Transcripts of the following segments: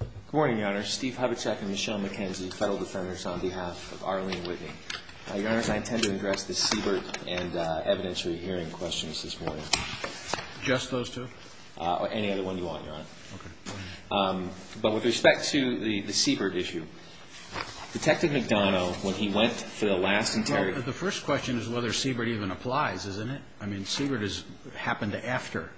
Good morning, Your Honor. Steve Hubachek and Michelle McKenzie, Federal Defenders, on behalf of Arlene Whitney. Your Honor, I intend to address the Siebert and evidentiary hearing questions this morning. Just those two? Any other one you want, Your Honor. Okay. But with respect to the Siebert issue, Detective McDonough, when he went for the last interrogation Well, the first question is whether Siebert even applies, isn't it? I mean, Siebert happened after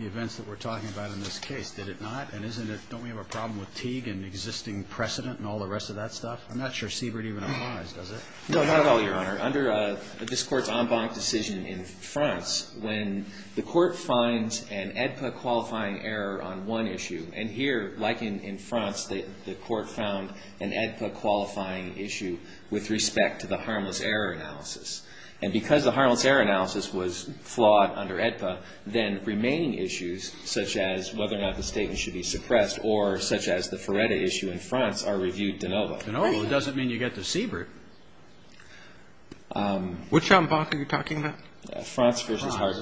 the events that we're talking about in this case, did it not? And don't we have a problem with Teague and existing precedent and all the rest of that stuff? I'm not sure Siebert even applies, does it? No, not at all, Your Honor. Under this Court's en banc decision in France, when the Court finds an AEDPA-qualifying error on one issue and here, like in France, the Court found an AEDPA-qualifying issue with respect to the harmless error analysis and because the harmless error analysis was flawed under AEDPA, then remaining issues such as whether or not the statement should be suppressed or such as the Feretta issue in France are reviewed de novo. De novo doesn't mean you get the Siebert. Which en banc are you talking about? France versus Harz.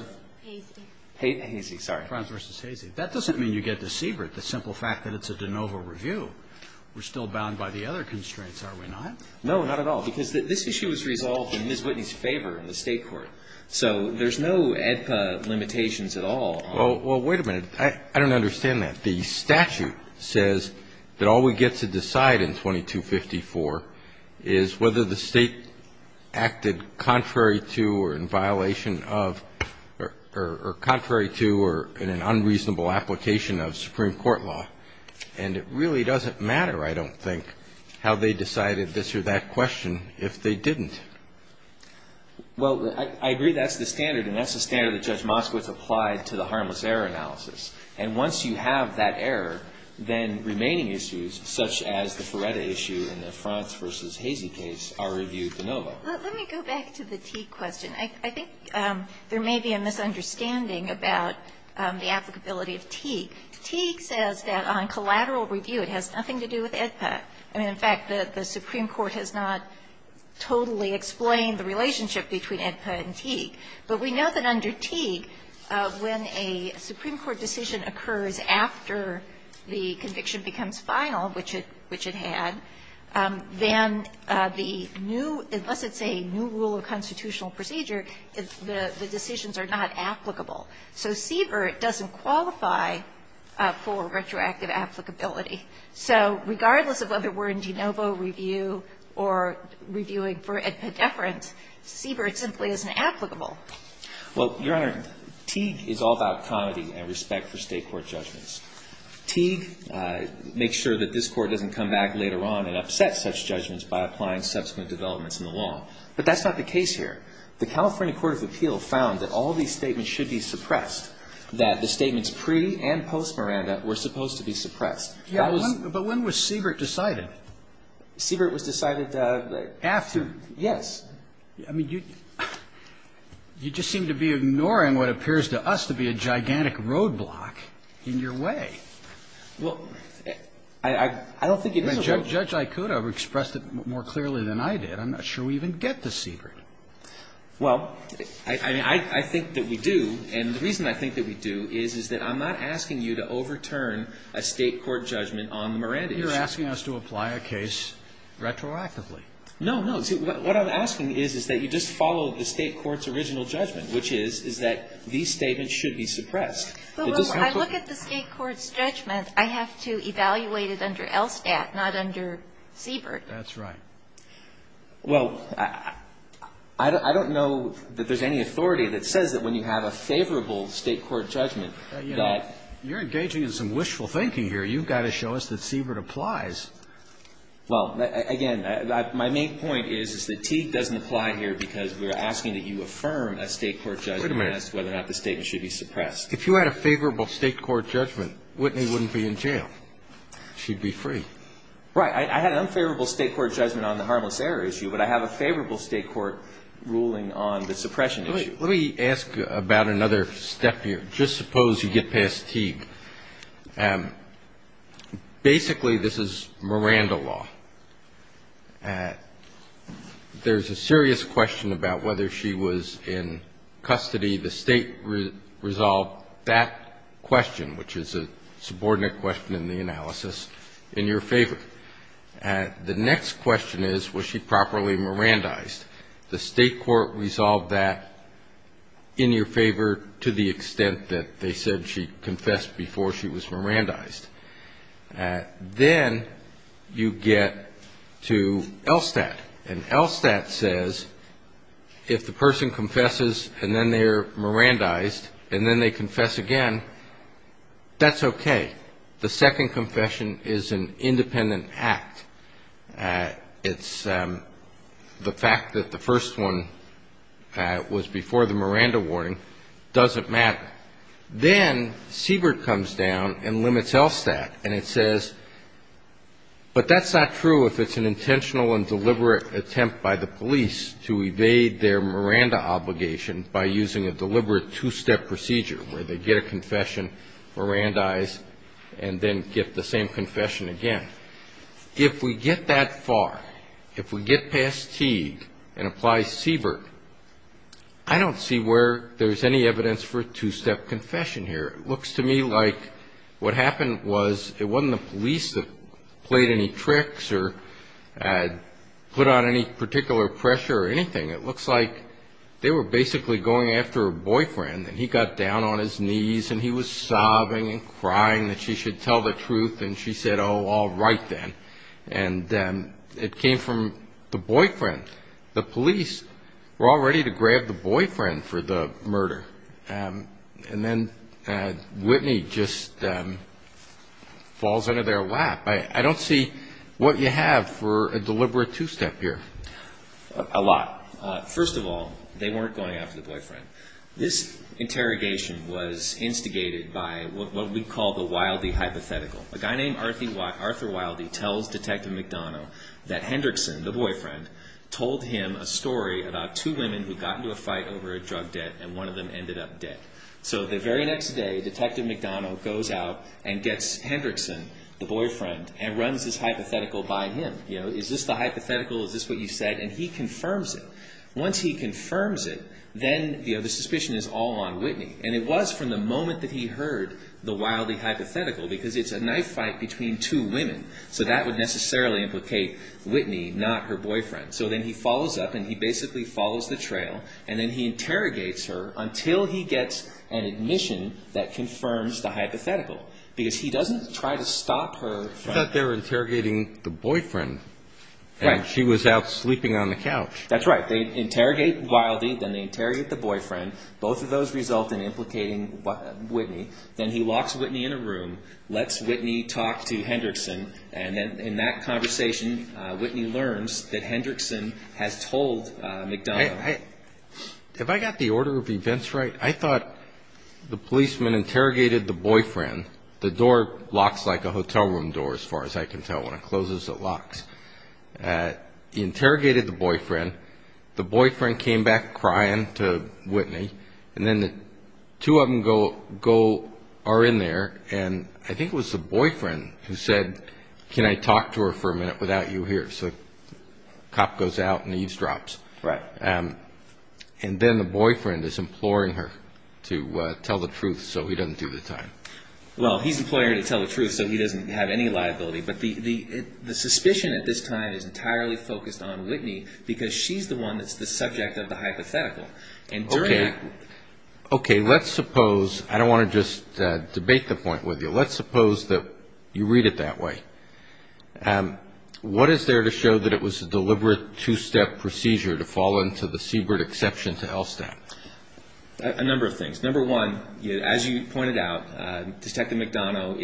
Hazy. Hazy, sorry. France versus Hazy. That doesn't mean you get the Siebert, the simple fact that it's a de novo review. We're still bound by the other constraints, are we not? No, not at all. Because this issue was resolved in Ms. Whitney's favor in the State court. So there's no AEDPA limitations at all. Well, wait a minute. I don't understand that. The statute says that all we get to decide in 2254 is whether the State acted contrary to or in violation of or contrary to or in an unreasonable application of Supreme Court law. And it really doesn't matter, I don't think, how they decided this or that question if they didn't. Well, I agree that's the standard, and that's the standard that Judge Moskowitz applied to the harmless error analysis. And once you have that error, then remaining issues such as the Feretta issue in the France versus Hazy case are reviewed de novo. Let me go back to the Teague question. I think there may be a misunderstanding about the applicability of Teague. Teague says that on collateral review it has nothing to do with AEDPA. In fact, the Supreme Court has not totally explained the relationship between AEDPA and Teague. But we know that under Teague, when a Supreme Court decision occurs after the conviction becomes final, which it had, then the new – unless it's a new rule of constitutional procedure, the decisions are not applicable. So Siebert doesn't qualify for retroactive applicability. So regardless of whether we're in de novo review or reviewing for AEDPA deference, Siebert simply isn't applicable. Well, Your Honor, Teague is all about comity and respect for State court judgments. Teague makes sure that this Court doesn't come back later on and upset such judgments by applying subsequent developments in the law. But that's not the case here. The California Court of Appeal found that all these statements should be suppressed, that the statements pre- and post-Miranda were supposed to be suppressed. But when was Siebert decided? Siebert was decided after. Yes. I mean, you just seem to be ignoring what appears to us to be a gigantic roadblock in your way. Well, I don't think it is a roadblock. Judge Aikuda expressed it more clearly than I did. I'm not sure we even get to Siebert. Well, I mean, I think that we do. And the reason I think that we do is, is that I'm not asking you to overturn a State court judgment on the Miranda issue. You're asking us to apply a case retroactively. No, no. See, what I'm asking is, is that you just follow the State court's original judgment, which is, is that these statements should be suppressed. But when I look at the State court's judgment, I have to evaluate it under ELSTAT, not under Siebert. That's right. Well, I don't know that there's any authority that says that when you have a favorable State court judgment that you're engaging in some wishful thinking here. You've got to show us that Siebert applies. Well, again, my main point is that Teague doesn't apply here because we're asking that you affirm a State court judgment and ask whether or not the statement should be suppressed. If you had a favorable State court judgment, Whitney wouldn't be in jail. She'd be free. Right. I had an unfavorable State court judgment on the harmless error issue, but I have a favorable State court ruling on the suppression issue. Let me ask about another step here. Just suppose you get past Teague. Basically, this is Miranda law. There's a serious question about whether she was in custody, the State resolved that question, which is a subordinate question in the analysis. In your favor. The next question is, was she properly Mirandized? The State court resolved that in your favor to the extent that they said she confessed before she was Mirandized. Then you get to ELSTAT. And ELSTAT says if the person confesses and then they're Mirandized and then they confess again, that's okay. The second confession is an independent act. It's the fact that the first one was before the Miranda warning doesn't matter. Then Siebert comes down and limits ELSTAT and it says, but that's not true if it's an intentional and deliberate attempt by the police to evade their Miranda obligation by using a deliberate two-step procedure where they get a confession, Mirandize, and then get the same confession again. If we get that far, if we get past Teague and apply Siebert, I don't see where there's any evidence for a two-step confession here. It looks to me like what happened was it wasn't the police that played any tricks or put on any particular pressure or anything. It looks like they were basically going after a boyfriend and he got down on his knees and he was sobbing and crying that she should tell the truth and she said, oh, all right then. And it came from the boyfriend. The police were all ready to grab the boyfriend for the murder. And then Whitney just falls under their lap. I don't see what you have for a deliberate two-step here. A lot. First of all, they weren't going after the boyfriend. This interrogation was instigated by what we call the Wildey hypothetical. A guy named Arthur Wildey tells Detective McDonough that Hendrickson, the boyfriend, told him a story about two women who got into a fight over a drug debt and one of them ended up dead. So the very next day, Detective McDonough goes out and gets Hendrickson, the boyfriend, and runs this hypothetical by him. Is this the hypothetical? Is this what you said? And he confirms it. Once he confirms it, then the suspicion is all on Whitney. And it was from the moment that he heard the Wildey hypothetical because it's a knife fight between two women. So that would necessarily implicate Whitney, not her boyfriend. So then he follows up and he basically follows the trail. And then he interrogates her until he gets an admission that confirms the hypothetical. Because he doesn't try to stop her. I thought they were interrogating the boyfriend and she was out sleeping on the couch. That's right. They interrogate Wildey, then they interrogate the boyfriend. Both of those result in implicating Whitney. Then he locks Whitney in a room, lets Whitney talk to Hendrickson, and then in that conversation Whitney learns that Hendrickson has told McDonough. Have I got the order of events right? I thought the policeman interrogated the boyfriend. The door locks like a hotel room door as far as I can tell. When it closes, it locks. He interrogated the boyfriend. The boyfriend came back crying to Whitney. And then the two of them are in there. And I think it was the boyfriend who said, can I talk to her for a minute without you here? So the cop goes out and eavesdrops. Right. And then the boyfriend is imploring her to tell the truth so he doesn't do the time. Well, he's imploring her to tell the truth so he doesn't have any liability. But the suspicion at this time is entirely focused on Whitney because she's the one that's the subject of the hypothetical. Okay, let's suppose, I don't want to just debate the point with you. Let's suppose that you read it that way. What is there to show that it was a deliberate two-step procedure to fall into the Siebert exception to L-STAT? A number of things. Number one, as you pointed out, Detective McDonough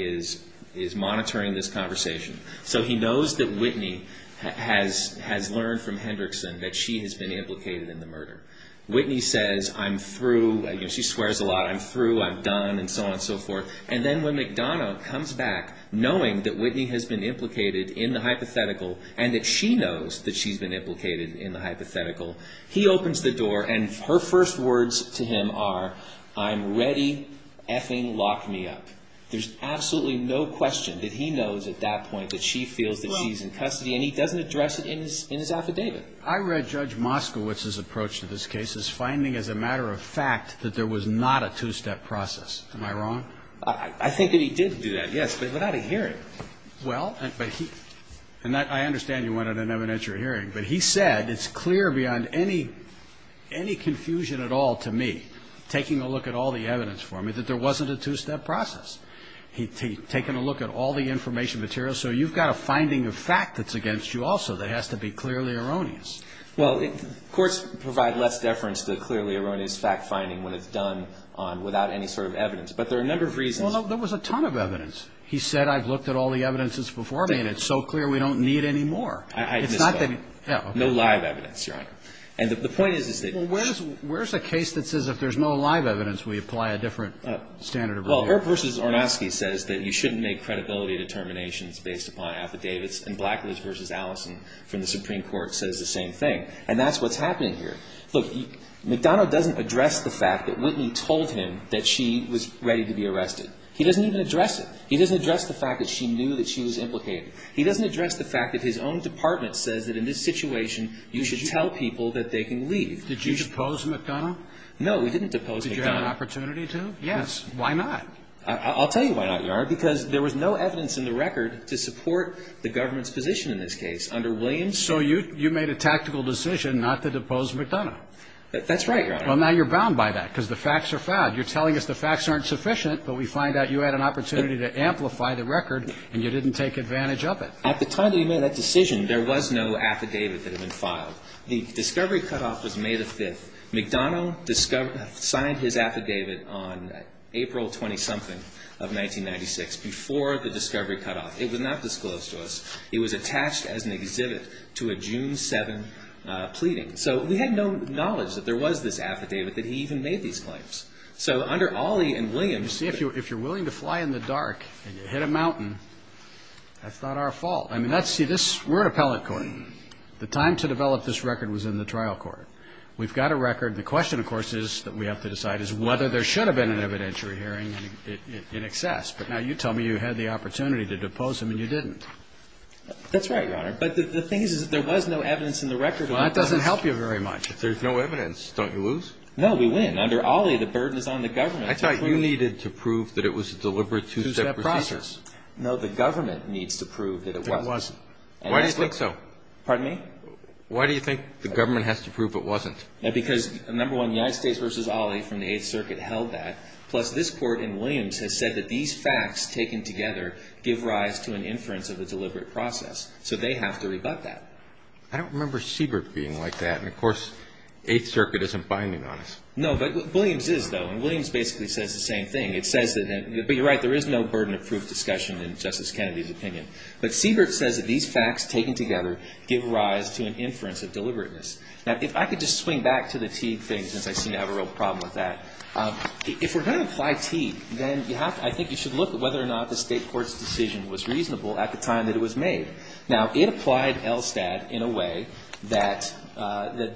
is monitoring this conversation. So he knows that Whitney has learned from Hendrickson that she has been implicated in the murder. Whitney says, I'm through. She swears a lot. I'm through, I'm done, and so on and so forth. And then when McDonough comes back knowing that Whitney has been implicated in the hypothetical and that she knows that she's been implicated in the hypothetical, he opens the door and her first words to him are, I'm ready, effing lock me up. There's absolutely no question that he knows at that point that she feels that she's in custody and he doesn't address it in his affidavit. I read Judge Moskowitz's approach to this case as finding as a matter of fact that there was not a two-step process. Am I wrong? I think that he did do that, yes, but without a hearing. Well, but he – and I understand you wanted an evidentiary hearing, but he said it's clear beyond any confusion at all to me, taking a look at all the evidence for me, that there wasn't a two-step process. He'd taken a look at all the information material. So you've got a finding of fact that's against you also that has to be clearly erroneous. Well, courts provide less deference to clearly erroneous fact-finding when it's done without any sort of evidence. But there are a number of reasons. Well, no, there was a ton of evidence. He said, I've looked at all the evidences before me and it's so clear we don't need any more. I misspoke. No live evidence, Your Honor. And the point is that – Well, where's a case that says if there's no live evidence we apply a different standard of review? Well, Earp v. Ornosky says that you shouldn't make credibility determinations based upon affidavits, and Blackledge v. Allison from the Supreme Court says the same thing. And that's what's happening here. Look, McDonough doesn't address the fact that Whitney told him that she was ready to be arrested. He doesn't even address it. He doesn't address the fact that she knew that she was implicated. He doesn't address the fact that his own department says that in this situation you should tell people that they can leave. Did you depose McDonough? No, we didn't depose McDonough. Did you have an opportunity to? Yes. Why not? I'll tell you why not, Your Honor, because there was no evidence in the record to support the government's position in this case under Williams. So you made a tactical decision not to depose McDonough? That's right, Your Honor. Well, now you're bound by that because the facts are found. You're telling us the facts aren't sufficient, but we find out you had an opportunity to amplify the record and you didn't take advantage of it. At the time that we made that decision, there was no affidavit that had been filed. The discovery cutoff was May the 5th. McDonough signed his affidavit on April 20-something of 1996 before the discovery cutoff. It was not disclosed to us. It was attached as an exhibit to a June 7 pleading. So we had no knowledge that there was this affidavit that he even made these claims. So under Ollie and Williams ---- You see, if you're willing to fly in the dark and you hit a mountain, that's not our fault. I mean, let's see, we're an appellate court. The time to develop this record was in the trial court. We've got a record. The question, of course, that we have to decide is whether there should have been an evidentiary hearing in excess. But now you tell me you had the opportunity to depose him and you didn't. That's right, Your Honor. But the thing is, there was no evidence in the record. Well, that doesn't help you very much. If there's no evidence, don't you lose? No, we win. Under Ollie, the burden is on the government to prove ---- I thought you needed to prove that it was a deliberate two-step process. No, the government needs to prove that it wasn't. Why do you think so? Pardon me? Why do you think the government has to prove it wasn't? Because, number one, United States v. Ollie from the Eighth Circuit held that. Plus, this Court in Williams has said that these facts taken together give rise to an inference of a deliberate process. So they have to rebut that. I don't remember Siebert being like that. And, of course, Eighth Circuit isn't binding on us. No, but Williams is, though. And Williams basically says the same thing. It says that ---- but you're right. There is no burden of proof discussion in Justice Kennedy's opinion. But Siebert says that these facts taken together give rise to an inference of deliberateness. Now, if I could just swing back to the Teague thing since I seem to have a real problem with that. If we're going to apply Teague, then you have to ---- I think you should look at whether or not the State Court's decision was reasonable at the time that it was made. Now, it applied ELSTAT in a way that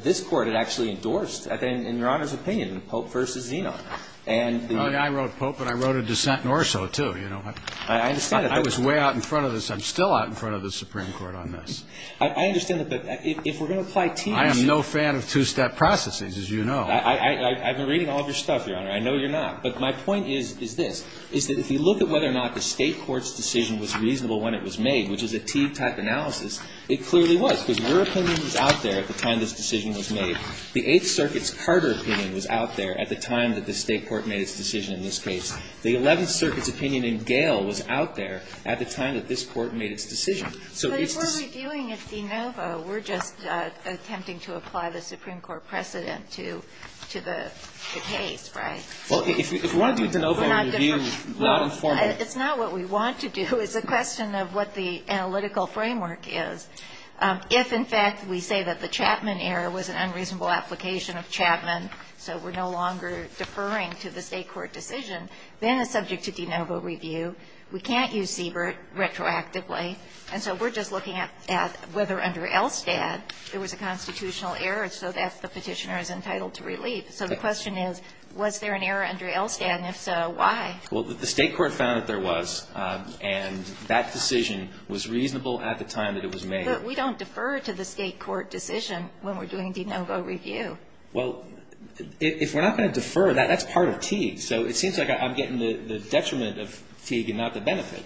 this Court had actually endorsed in Your Honor's opinion, Pope v. Zenon. And the ---- I wrote Pope, but I wrote a dissent in Orso, too. You know, I was way out in front of this. I'm still out in front of the Supreme Court on this. I understand that. But if we're going to apply Teague ---- I am no fan of two-step processes, as you know. I've been reading all of your stuff, Your Honor. I know you're not. But my point is this, is that if you look at whether or not the State Court's decision was reasonable when it was made, which is a Teague-type analysis, it clearly was. Because your opinion was out there at the time this decision was made. The Eighth Circuit's Carter opinion was out there at the time that the State Court made its decision in this case. The Eleventh Circuit's opinion in Gale was out there at the time that this Court made its decision. So it's just ---- What we're doing is de novo. We're just attempting to apply the Supreme Court precedent to the case, right? Well, if we want to do de novo review, we're not going to ---- Well, it's not what we want to do. It's a question of what the analytical framework is. If, in fact, we say that the Chapman error was an unreasonable application of Chapman, so we're no longer deferring to the State Court decision, then it's subject to de novo review. We can't use Siebert retroactively. And so we're just looking at whether under ELSTAD there was a constitutional error so that the Petitioner is entitled to relief. So the question is, was there an error under ELSTAD? And if so, why? Well, the State Court found that there was, and that decision was reasonable at the time that it was made. But we don't defer to the State Court decision when we're doing de novo review. Well, if we're not going to defer, that's part of Teague. So it seems like I'm getting the detriment of Teague and not the benefit.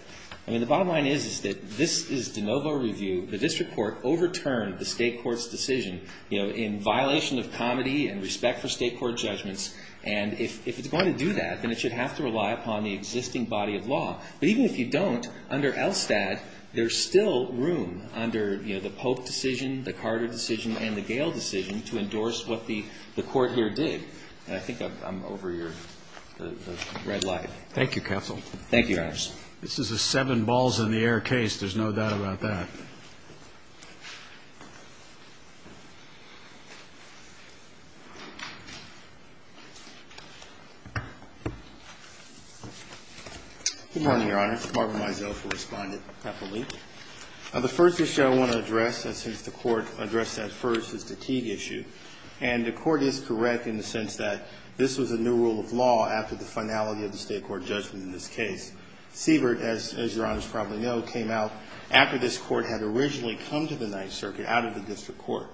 I mean, the bottom line is, is that this is de novo review. The district court overturned the State Court's decision, you know, in violation of comity and respect for State Court judgments. And if it's going to do that, then it should have to rely upon the existing body of law. But even if you don't, under ELSTAD, there's still room under, you know, the Polk decision, the Carter decision and the Gale decision to endorse what the Court here did. And I think I'm over your red light. Thank you, counsel. Thank you, Your Honors. This is a seven balls in the air case. There's no doubt about that. Good morning, Your Honors. Barbara Mizell for Respondent. I have a link. The first issue I want to address, since the Court addressed that first, is the Teague issue. And the Court is correct in the sense that this was a new rule of law after the finality of the State Court judgment in this case. Siebert, as Your Honors probably know, came out after this Court had originally come to the Ninth Circuit out of the district court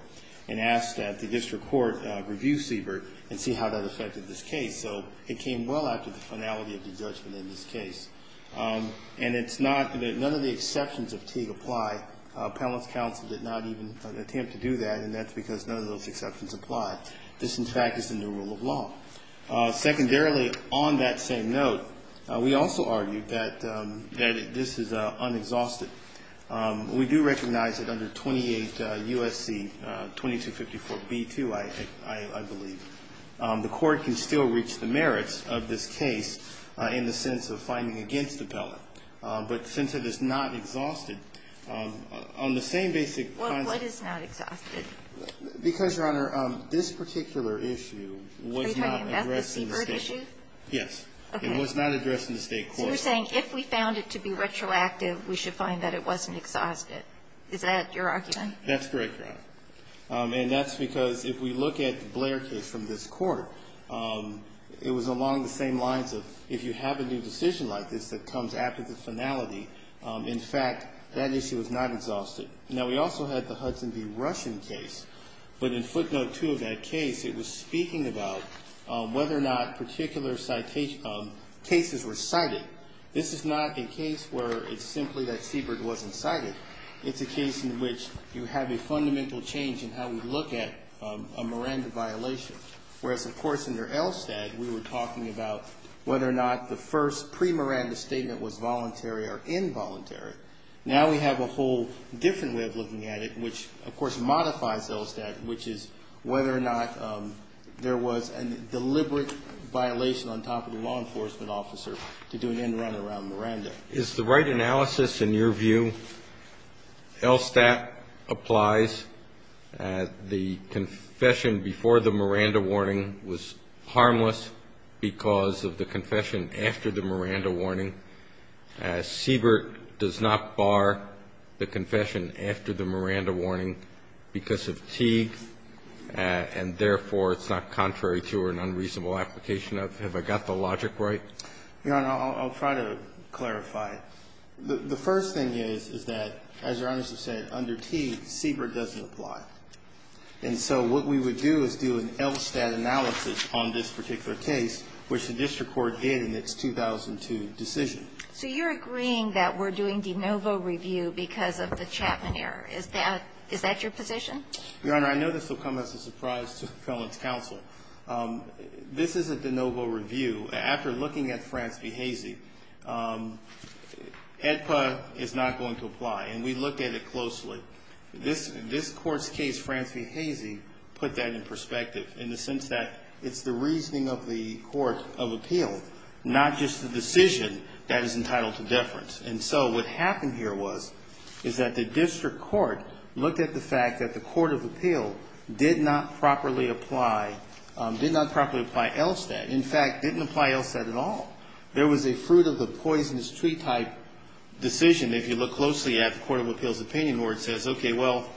and asked that the district court review Siebert and see how that affected this case. So it came well after the finality of the judgment in this case. And it's not that none of the exceptions of Teague apply. Appellant's counsel did not even attempt to do that, and that's because none of those exceptions apply. This, in fact, is the new rule of law. Secondarily, on that same note, we also argue that this is unexhausted. We do recognize that under 28 U.S.C. 2254b-2, I believe, the Court can still reach the merits of this case in the sense of finding against Appellant. But since it is not exhausted, on the same basic concerns of the court, this particular issue was not addressed in the State court. Yes. It was not addressed in the State court. So you're saying if we found it to be retroactive, we should find that it wasn't exhausted. Is that your argument? That's correct, Your Honor. And that's because if we look at the Blair case from this Court, it was along the same lines of if you have a new decision like this that comes after the finality, in fact, that issue is not exhausted. Now, we also had the Hudson v. Russian case. But in footnote 2 of that case, it was speaking about whether or not particular cases were cited. This is not a case where it's simply that Siebert wasn't cited. It's a case in which you have a fundamental change in how we look at a Miranda violation, whereas, of course, under Elstad, we were talking about whether or not the first pre-Miranda statement was voluntary or involuntary. Now we have a whole different way of looking at it, which, of course, modifies Elstad, which is whether or not there was a deliberate violation on top of the law enforcement officer to do an end run around Miranda. Is the right analysis in your view, Elstad applies, the confession before the Miranda warning was harmless because of the confession after the Miranda warning. Siebert does not bar the confession after the Miranda warning because of Teague, and therefore, it's not contrary to an unreasonable application of, have I got the logic right? You know, and I'll try to clarify. The first thing is, is that, as Your Honors have said, under Teague, Siebert doesn't apply. And so what we would do is do an Elstad analysis on this particular case, which the district court did in its 2002 decision. So you're agreeing that we're doing de novo review because of the Chapman error. Is that your position? Your Honor, I know this will come as a surprise to felons counsel. This is a de novo review. After looking at Franski-Hazy, AEDPA is not going to apply. And we looked at it closely. This Court's case, Franski-Hazy, put that in perspective in the sense that it's the Court of Appeal, not just the decision that is entitled to deference. And so what happened here was, is that the district court looked at the fact that the Court of Appeal did not properly apply, did not properly apply Elstad. In fact, didn't apply Elstad at all. There was a fruit-of-the-poisonous-tree type decision, if you look closely at the Court of Appeal's opinion, where it says, okay, well,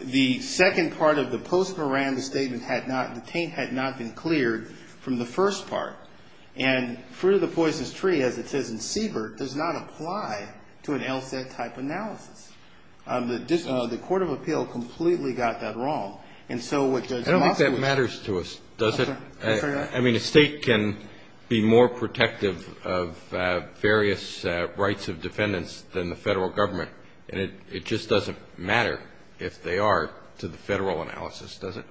the second part of the post-Miranda statement had not, the taint had not been cleared from the first part. And fruit-of-the-poisonous-tree, as it says in Siebert, does not apply to an Elstad type analysis. The Court of Appeal completely got that wrong. And so what Judge Moskowitz said. I don't think that matters to us, does it? I mean, a state can be more protective of various rights of defendants than the Federal Government, and it just doesn't matter if they are to the Federal analysis, does it?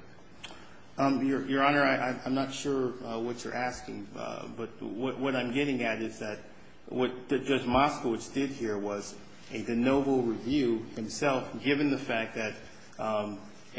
Your Honor, I'm not sure what you're asking, but what I'm getting at is that what Judge Moskowitz did here was a de novo review himself, given the fact that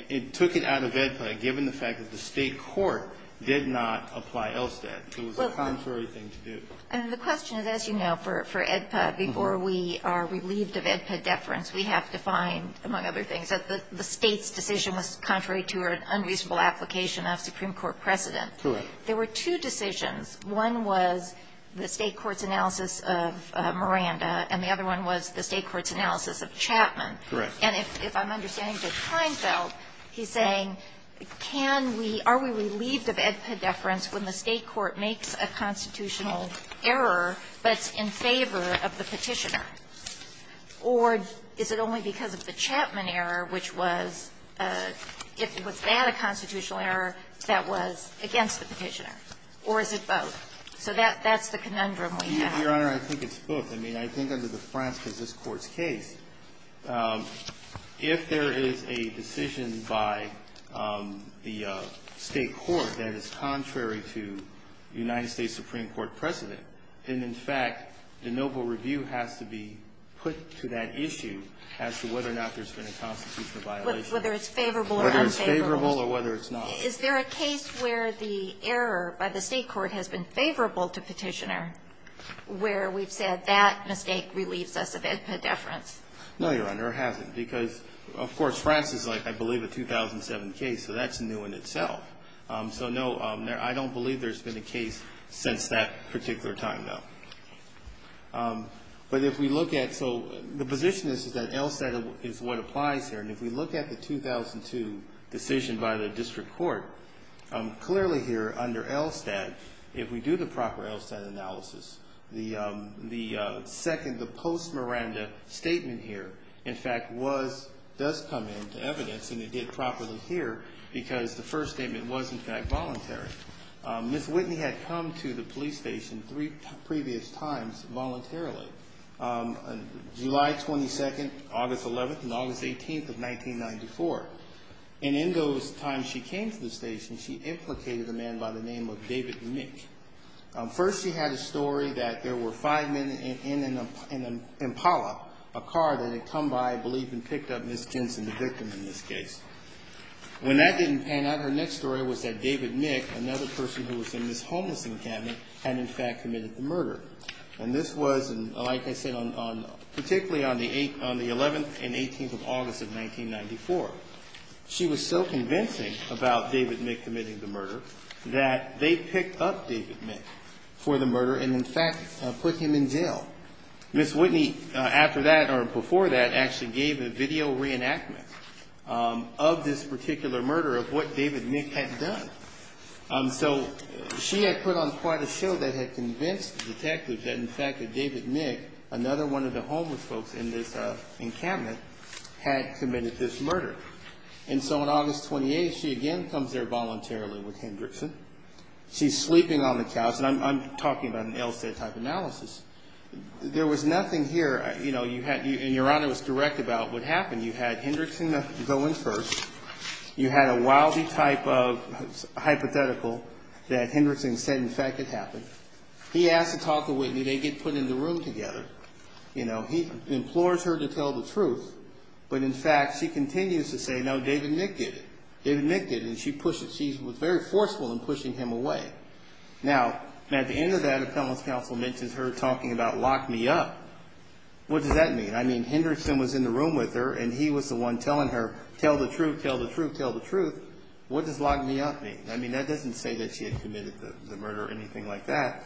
it took it out of AEDPA, given the fact that the State court did not apply Elstad. It was the contrary thing to do. And the question is, as you know, for AEDPA, before we are relieved of AEDPA deference, we have to find, among other things, that the State's decision was contrary to an unreasonable application of Supreme Court precedent. Correct. There were two decisions. One was the State court's analysis of Miranda, and the other one was the State court's analysis of Chapman. Correct. And if I'm understanding Judge Heinfeld, he's saying, can we – are we relieved of AEDPA deference when the State court makes a constitutional error, but it's in favor of the Petitioner? Or is it only because of the Chapman error, which was – was that a constitutional error that was against the Petitioner? Or is it both? So that's the conundrum we have. Your Honor, I think it's both. I mean, I think under the Fransk as this Court's case, if there is a decision by the State court that is contrary to United States Supreme Court precedent, then, in fact, the noble review has to be put to that issue as to whether or not there's been a constitutional violation. Whether it's favorable or unfavorable. Whether it's favorable or whether it's not. Is there a case where the error by the State court has been favorable to Petitioner, where we've said that mistake relieves us of AEDPA deference? No, Your Honor, it hasn't. Because, of course, Fransk is, I believe, a 2007 case, so that's new in itself. So, no, I don't believe there's been a case since that particular time, no. But if we look at – so the position is that ELSTAT is what applies here, and if we look at the 2002 decision by the District Court, clearly here under ELSTAT, if we do the proper ELSTAT analysis, the second, the post-Miranda statement here, in fact, was – does come into evidence, and it did properly here, because the first statement was, in fact, voluntary. Ms. Whitney had come to the police station three previous times voluntarily, July 22nd, August 11th, and August 18th of 1994. And in those times she came to the station, she implicated a man by the name of David Mitch. First she had a story that there were five men in an Impala, a car that had come by, I believe, and picked up Ms. Jensen, the victim in this case. When that didn't pan out, her next story was that David Mitch, another person who was in Ms. Homeless' encampment, had, in fact, committed the murder. And this was, like I said, particularly on the 11th and 18th of August of 1994. She was so convincing about David Mitch committing the murder that they picked up David Mitch for the murder and, in fact, put him in jail. Ms. Whitney, after that or before that, actually gave a video reenactment of this particular murder of what David Mitch had done. So she had put on quite a show that had convinced the detective that, in fact, that David Mitch, another one of the homeless folks in this encampment, had committed this murder. And so on August 28th, she again comes there voluntarily with Hendrickson. She's sleeping on the couch, and I'm talking about an LSA type analysis. There was nothing here, you know, and Your Honor was direct about what happened. You had Hendrickson go in first. You had a wowsy type of hypothetical that Hendrickson said, in fact, had happened. He asked to talk to Whitney. They get put in the room together. You know, he implores her to tell the truth. But, in fact, she continues to say, no, David Mitch did it. David Mitch did it. And she pushed it. She was very forceful in pushing him away. Now, at the end of that, a felon's counsel mentions her talking about lock me up. What does that mean? I mean, Hendrickson was in the room with her, and he was the one telling her, tell the truth, tell the truth, tell the truth. What does lock me up mean? I mean, that doesn't say that she had committed the murder or anything like that.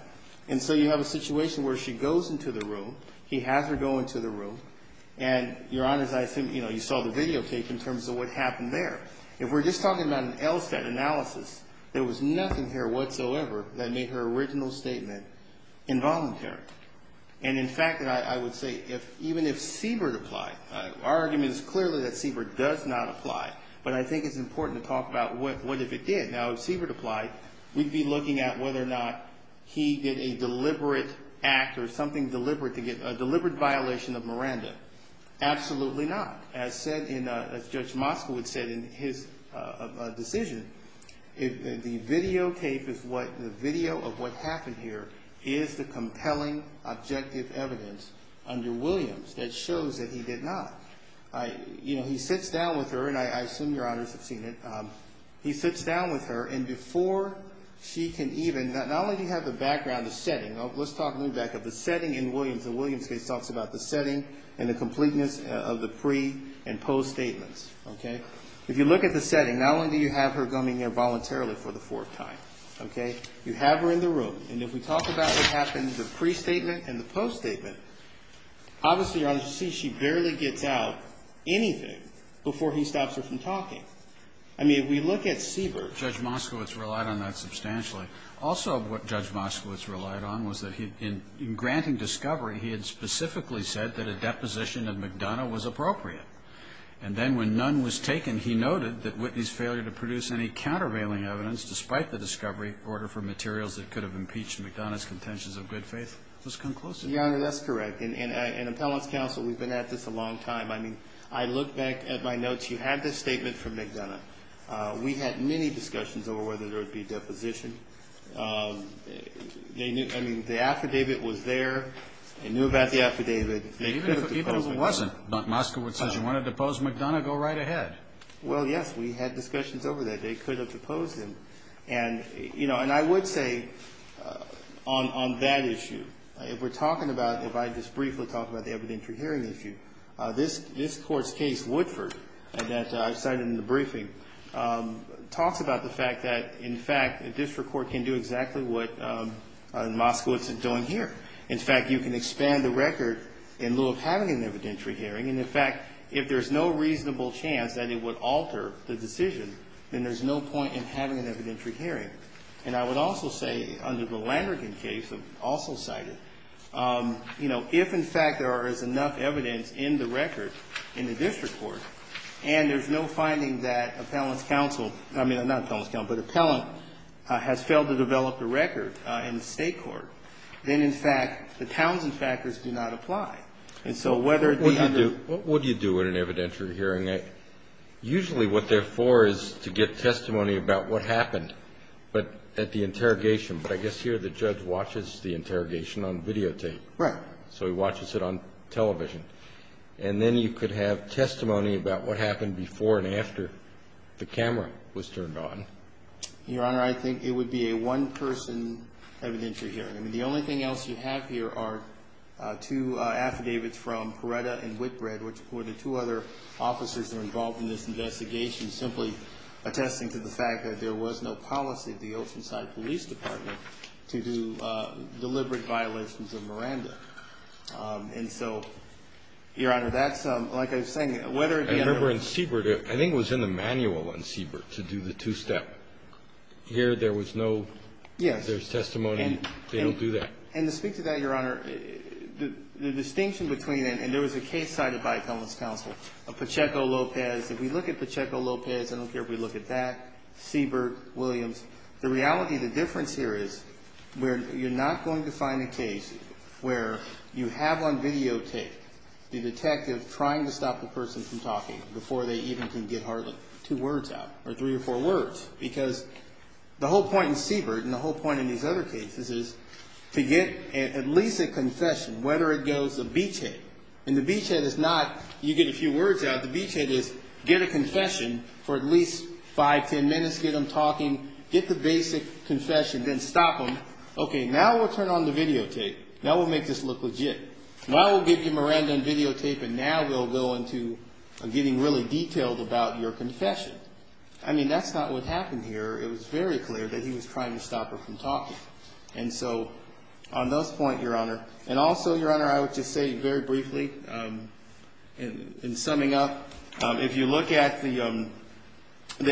And so you have a situation where she goes into the room. He has her go into the room. And, Your Honor, as I assume, you know, you saw the video tape in terms of what happened there. If we're just talking about an LSAT analysis, there was nothing here whatsoever that made her original statement involuntary. And, in fact, I would say even if Siebert applied, our argument is clearly that Siebert does not apply. But I think it's important to talk about what if it did. Now, if Siebert applied, we'd be looking at whether or not he did a deliberate act or something deliberate to get a deliberate violation of Miranda. Absolutely not. As said in, as Judge Moskowitz said in his decision, the video tape is what, the video of what happened here is the compelling objective evidence under Williams that shows that he did not. I, you know, he sits down with her, and I assume Your Honors have seen it. He sits down with her, and before she can even, not only do you have the background, the setting. Let's talk, move back up. The setting in Williams, the Williams case talks about the setting and the completeness of the pre- and post-statements. Okay? If you look at the setting, not only do you have her coming here voluntarily for the fourth time, okay, you have her in the room. And if we talk about what happened in the pre-statement and the post-statement, obviously, Your Honors, you see she barely gets out anything before he stops her from talking. I mean, if we look at Siebert. Judge Moskowitz relied on that substantially. Also, what Judge Moskowitz relied on was that he, in granting discovery, he had specifically said that a deposition of McDonough was appropriate. And then when none was taken, he noted that Whitney's failure to produce any countervailing evidence, despite the discovery, in order for materials that could have impeached McDonough's contentions of good faith, was conclusive. Your Honor, that's correct. In Appellant's Counsel, we've been at this a long time. I mean, I look back at my notes. You have this statement from McDonough. We had many discussions over whether there would be a deposition. I mean, the affidavit was there. They knew about the affidavit. They could have deposed McDonough. Even if it wasn't, Moskowitz says, you want to depose McDonough, go right ahead. Well, yes, we had discussions over that. They could have deposed him. And, you know, and I would say on that issue, if we're talking about, if I just briefly talk about the evidentiary hearing issue, this Court's case, Woodford, that I cited in the briefing, talks about the fact that, in fact, a district court can do exactly what Moskowitz is doing here. In fact, you can expand the record in lieu of having an evidentiary hearing. And, in fact, if there's no reasonable chance that it would alter the decision, then there's no point in having an evidentiary hearing. And I would also say, under the Landrigan case, also cited, you know, if, in fact, there is enough evidence in the record in the district court, and there's no finding that appellant's counsel I mean, not appellant's counsel, but appellant has failed to develop a record in the state court, then, in fact, the Townsend factors do not apply. And so whether it be under What would you do in an evidentiary hearing? Usually what they're for is to get testimony about what happened at the interrogation. But I guess here the judge watches the interrogation on videotape. Right. So he watches it on television. And then you could have testimony about what happened before and after the camera was turned on. Your Honor, I think it would be a one-person evidentiary hearing. I mean, the only thing else you have here are two affidavits from Peretta and Whitbread, which were the two other officers that were involved in this investigation, simply attesting to the fact that there was no policy at the Oceanside Police Department to do deliberate violations of Miranda. And so, Your Honor, that's, like I was saying, whether it be under I remember in Siebert, I think it was in the manual on Siebert to do the two-step. Here there was no Yes. If there's testimony, they don't do that. And to speak to that, Your Honor, the distinction between it, and there was a case cited by appellant's counsel of Pacheco-Lopez. If we look at Pacheco-Lopez, I don't care if we look at that, Siebert, Williams, the reality, the difference here is you're not going to find a case where you have on videotape the detective trying to stop the person from talking before they even can get hardly two words out, or three or four words. Because the whole point in Siebert, and the whole point in these other cases, is to get at least a confession, whether it goes a beachhead. And the beachhead is not you get a few words out. The beachhead is get a confession for at least five, ten minutes. Get them talking. Get the basic confession. Then stop them. Okay, now we'll turn on the videotape. Now we'll make this look legit. Now we'll give you Miranda and videotape, and now we'll go into getting really detailed about your confession. I mean, that's not what happened here. It was very clear that he was trying to stop her from talking. And so on those points, Your Honor, and also, Your Honor, I would just say very briefly, in summing up, if you look at the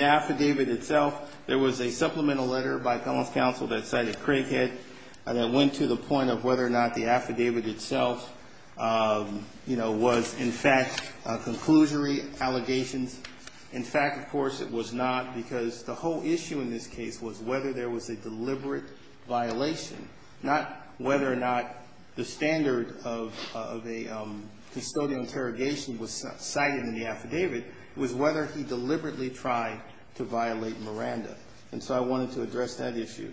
affidavit itself, there was a supplemental letter by appellant's counsel that cited Craighead that went to the point of whether or not the affidavit itself, you know, was in fact a conclusionary allegations. In fact, of course, it was not, because the whole issue in this case was whether there was a deliberate violation, not whether or not the standard of a custodial interrogation was cited in the affidavit. It was whether he deliberately tried to violate Miranda. And so I wanted to address that issue.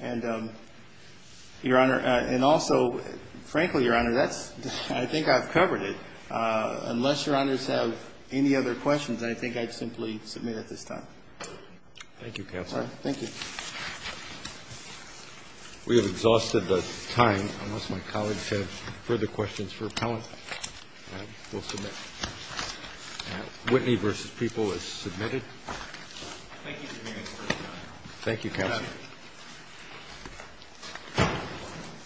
And, Your Honor, and also, frankly, Your Honor, that's, I think I've covered it. Unless Your Honors have any other questions, I think I'd simply submit at this time. Thank you, Counsel. Thank you. We have exhausted the time. Unless my colleagues have further questions for appellant, we'll submit. Whitney v. People is submitted. Thank you, Your Honor. Thank you, Counsel.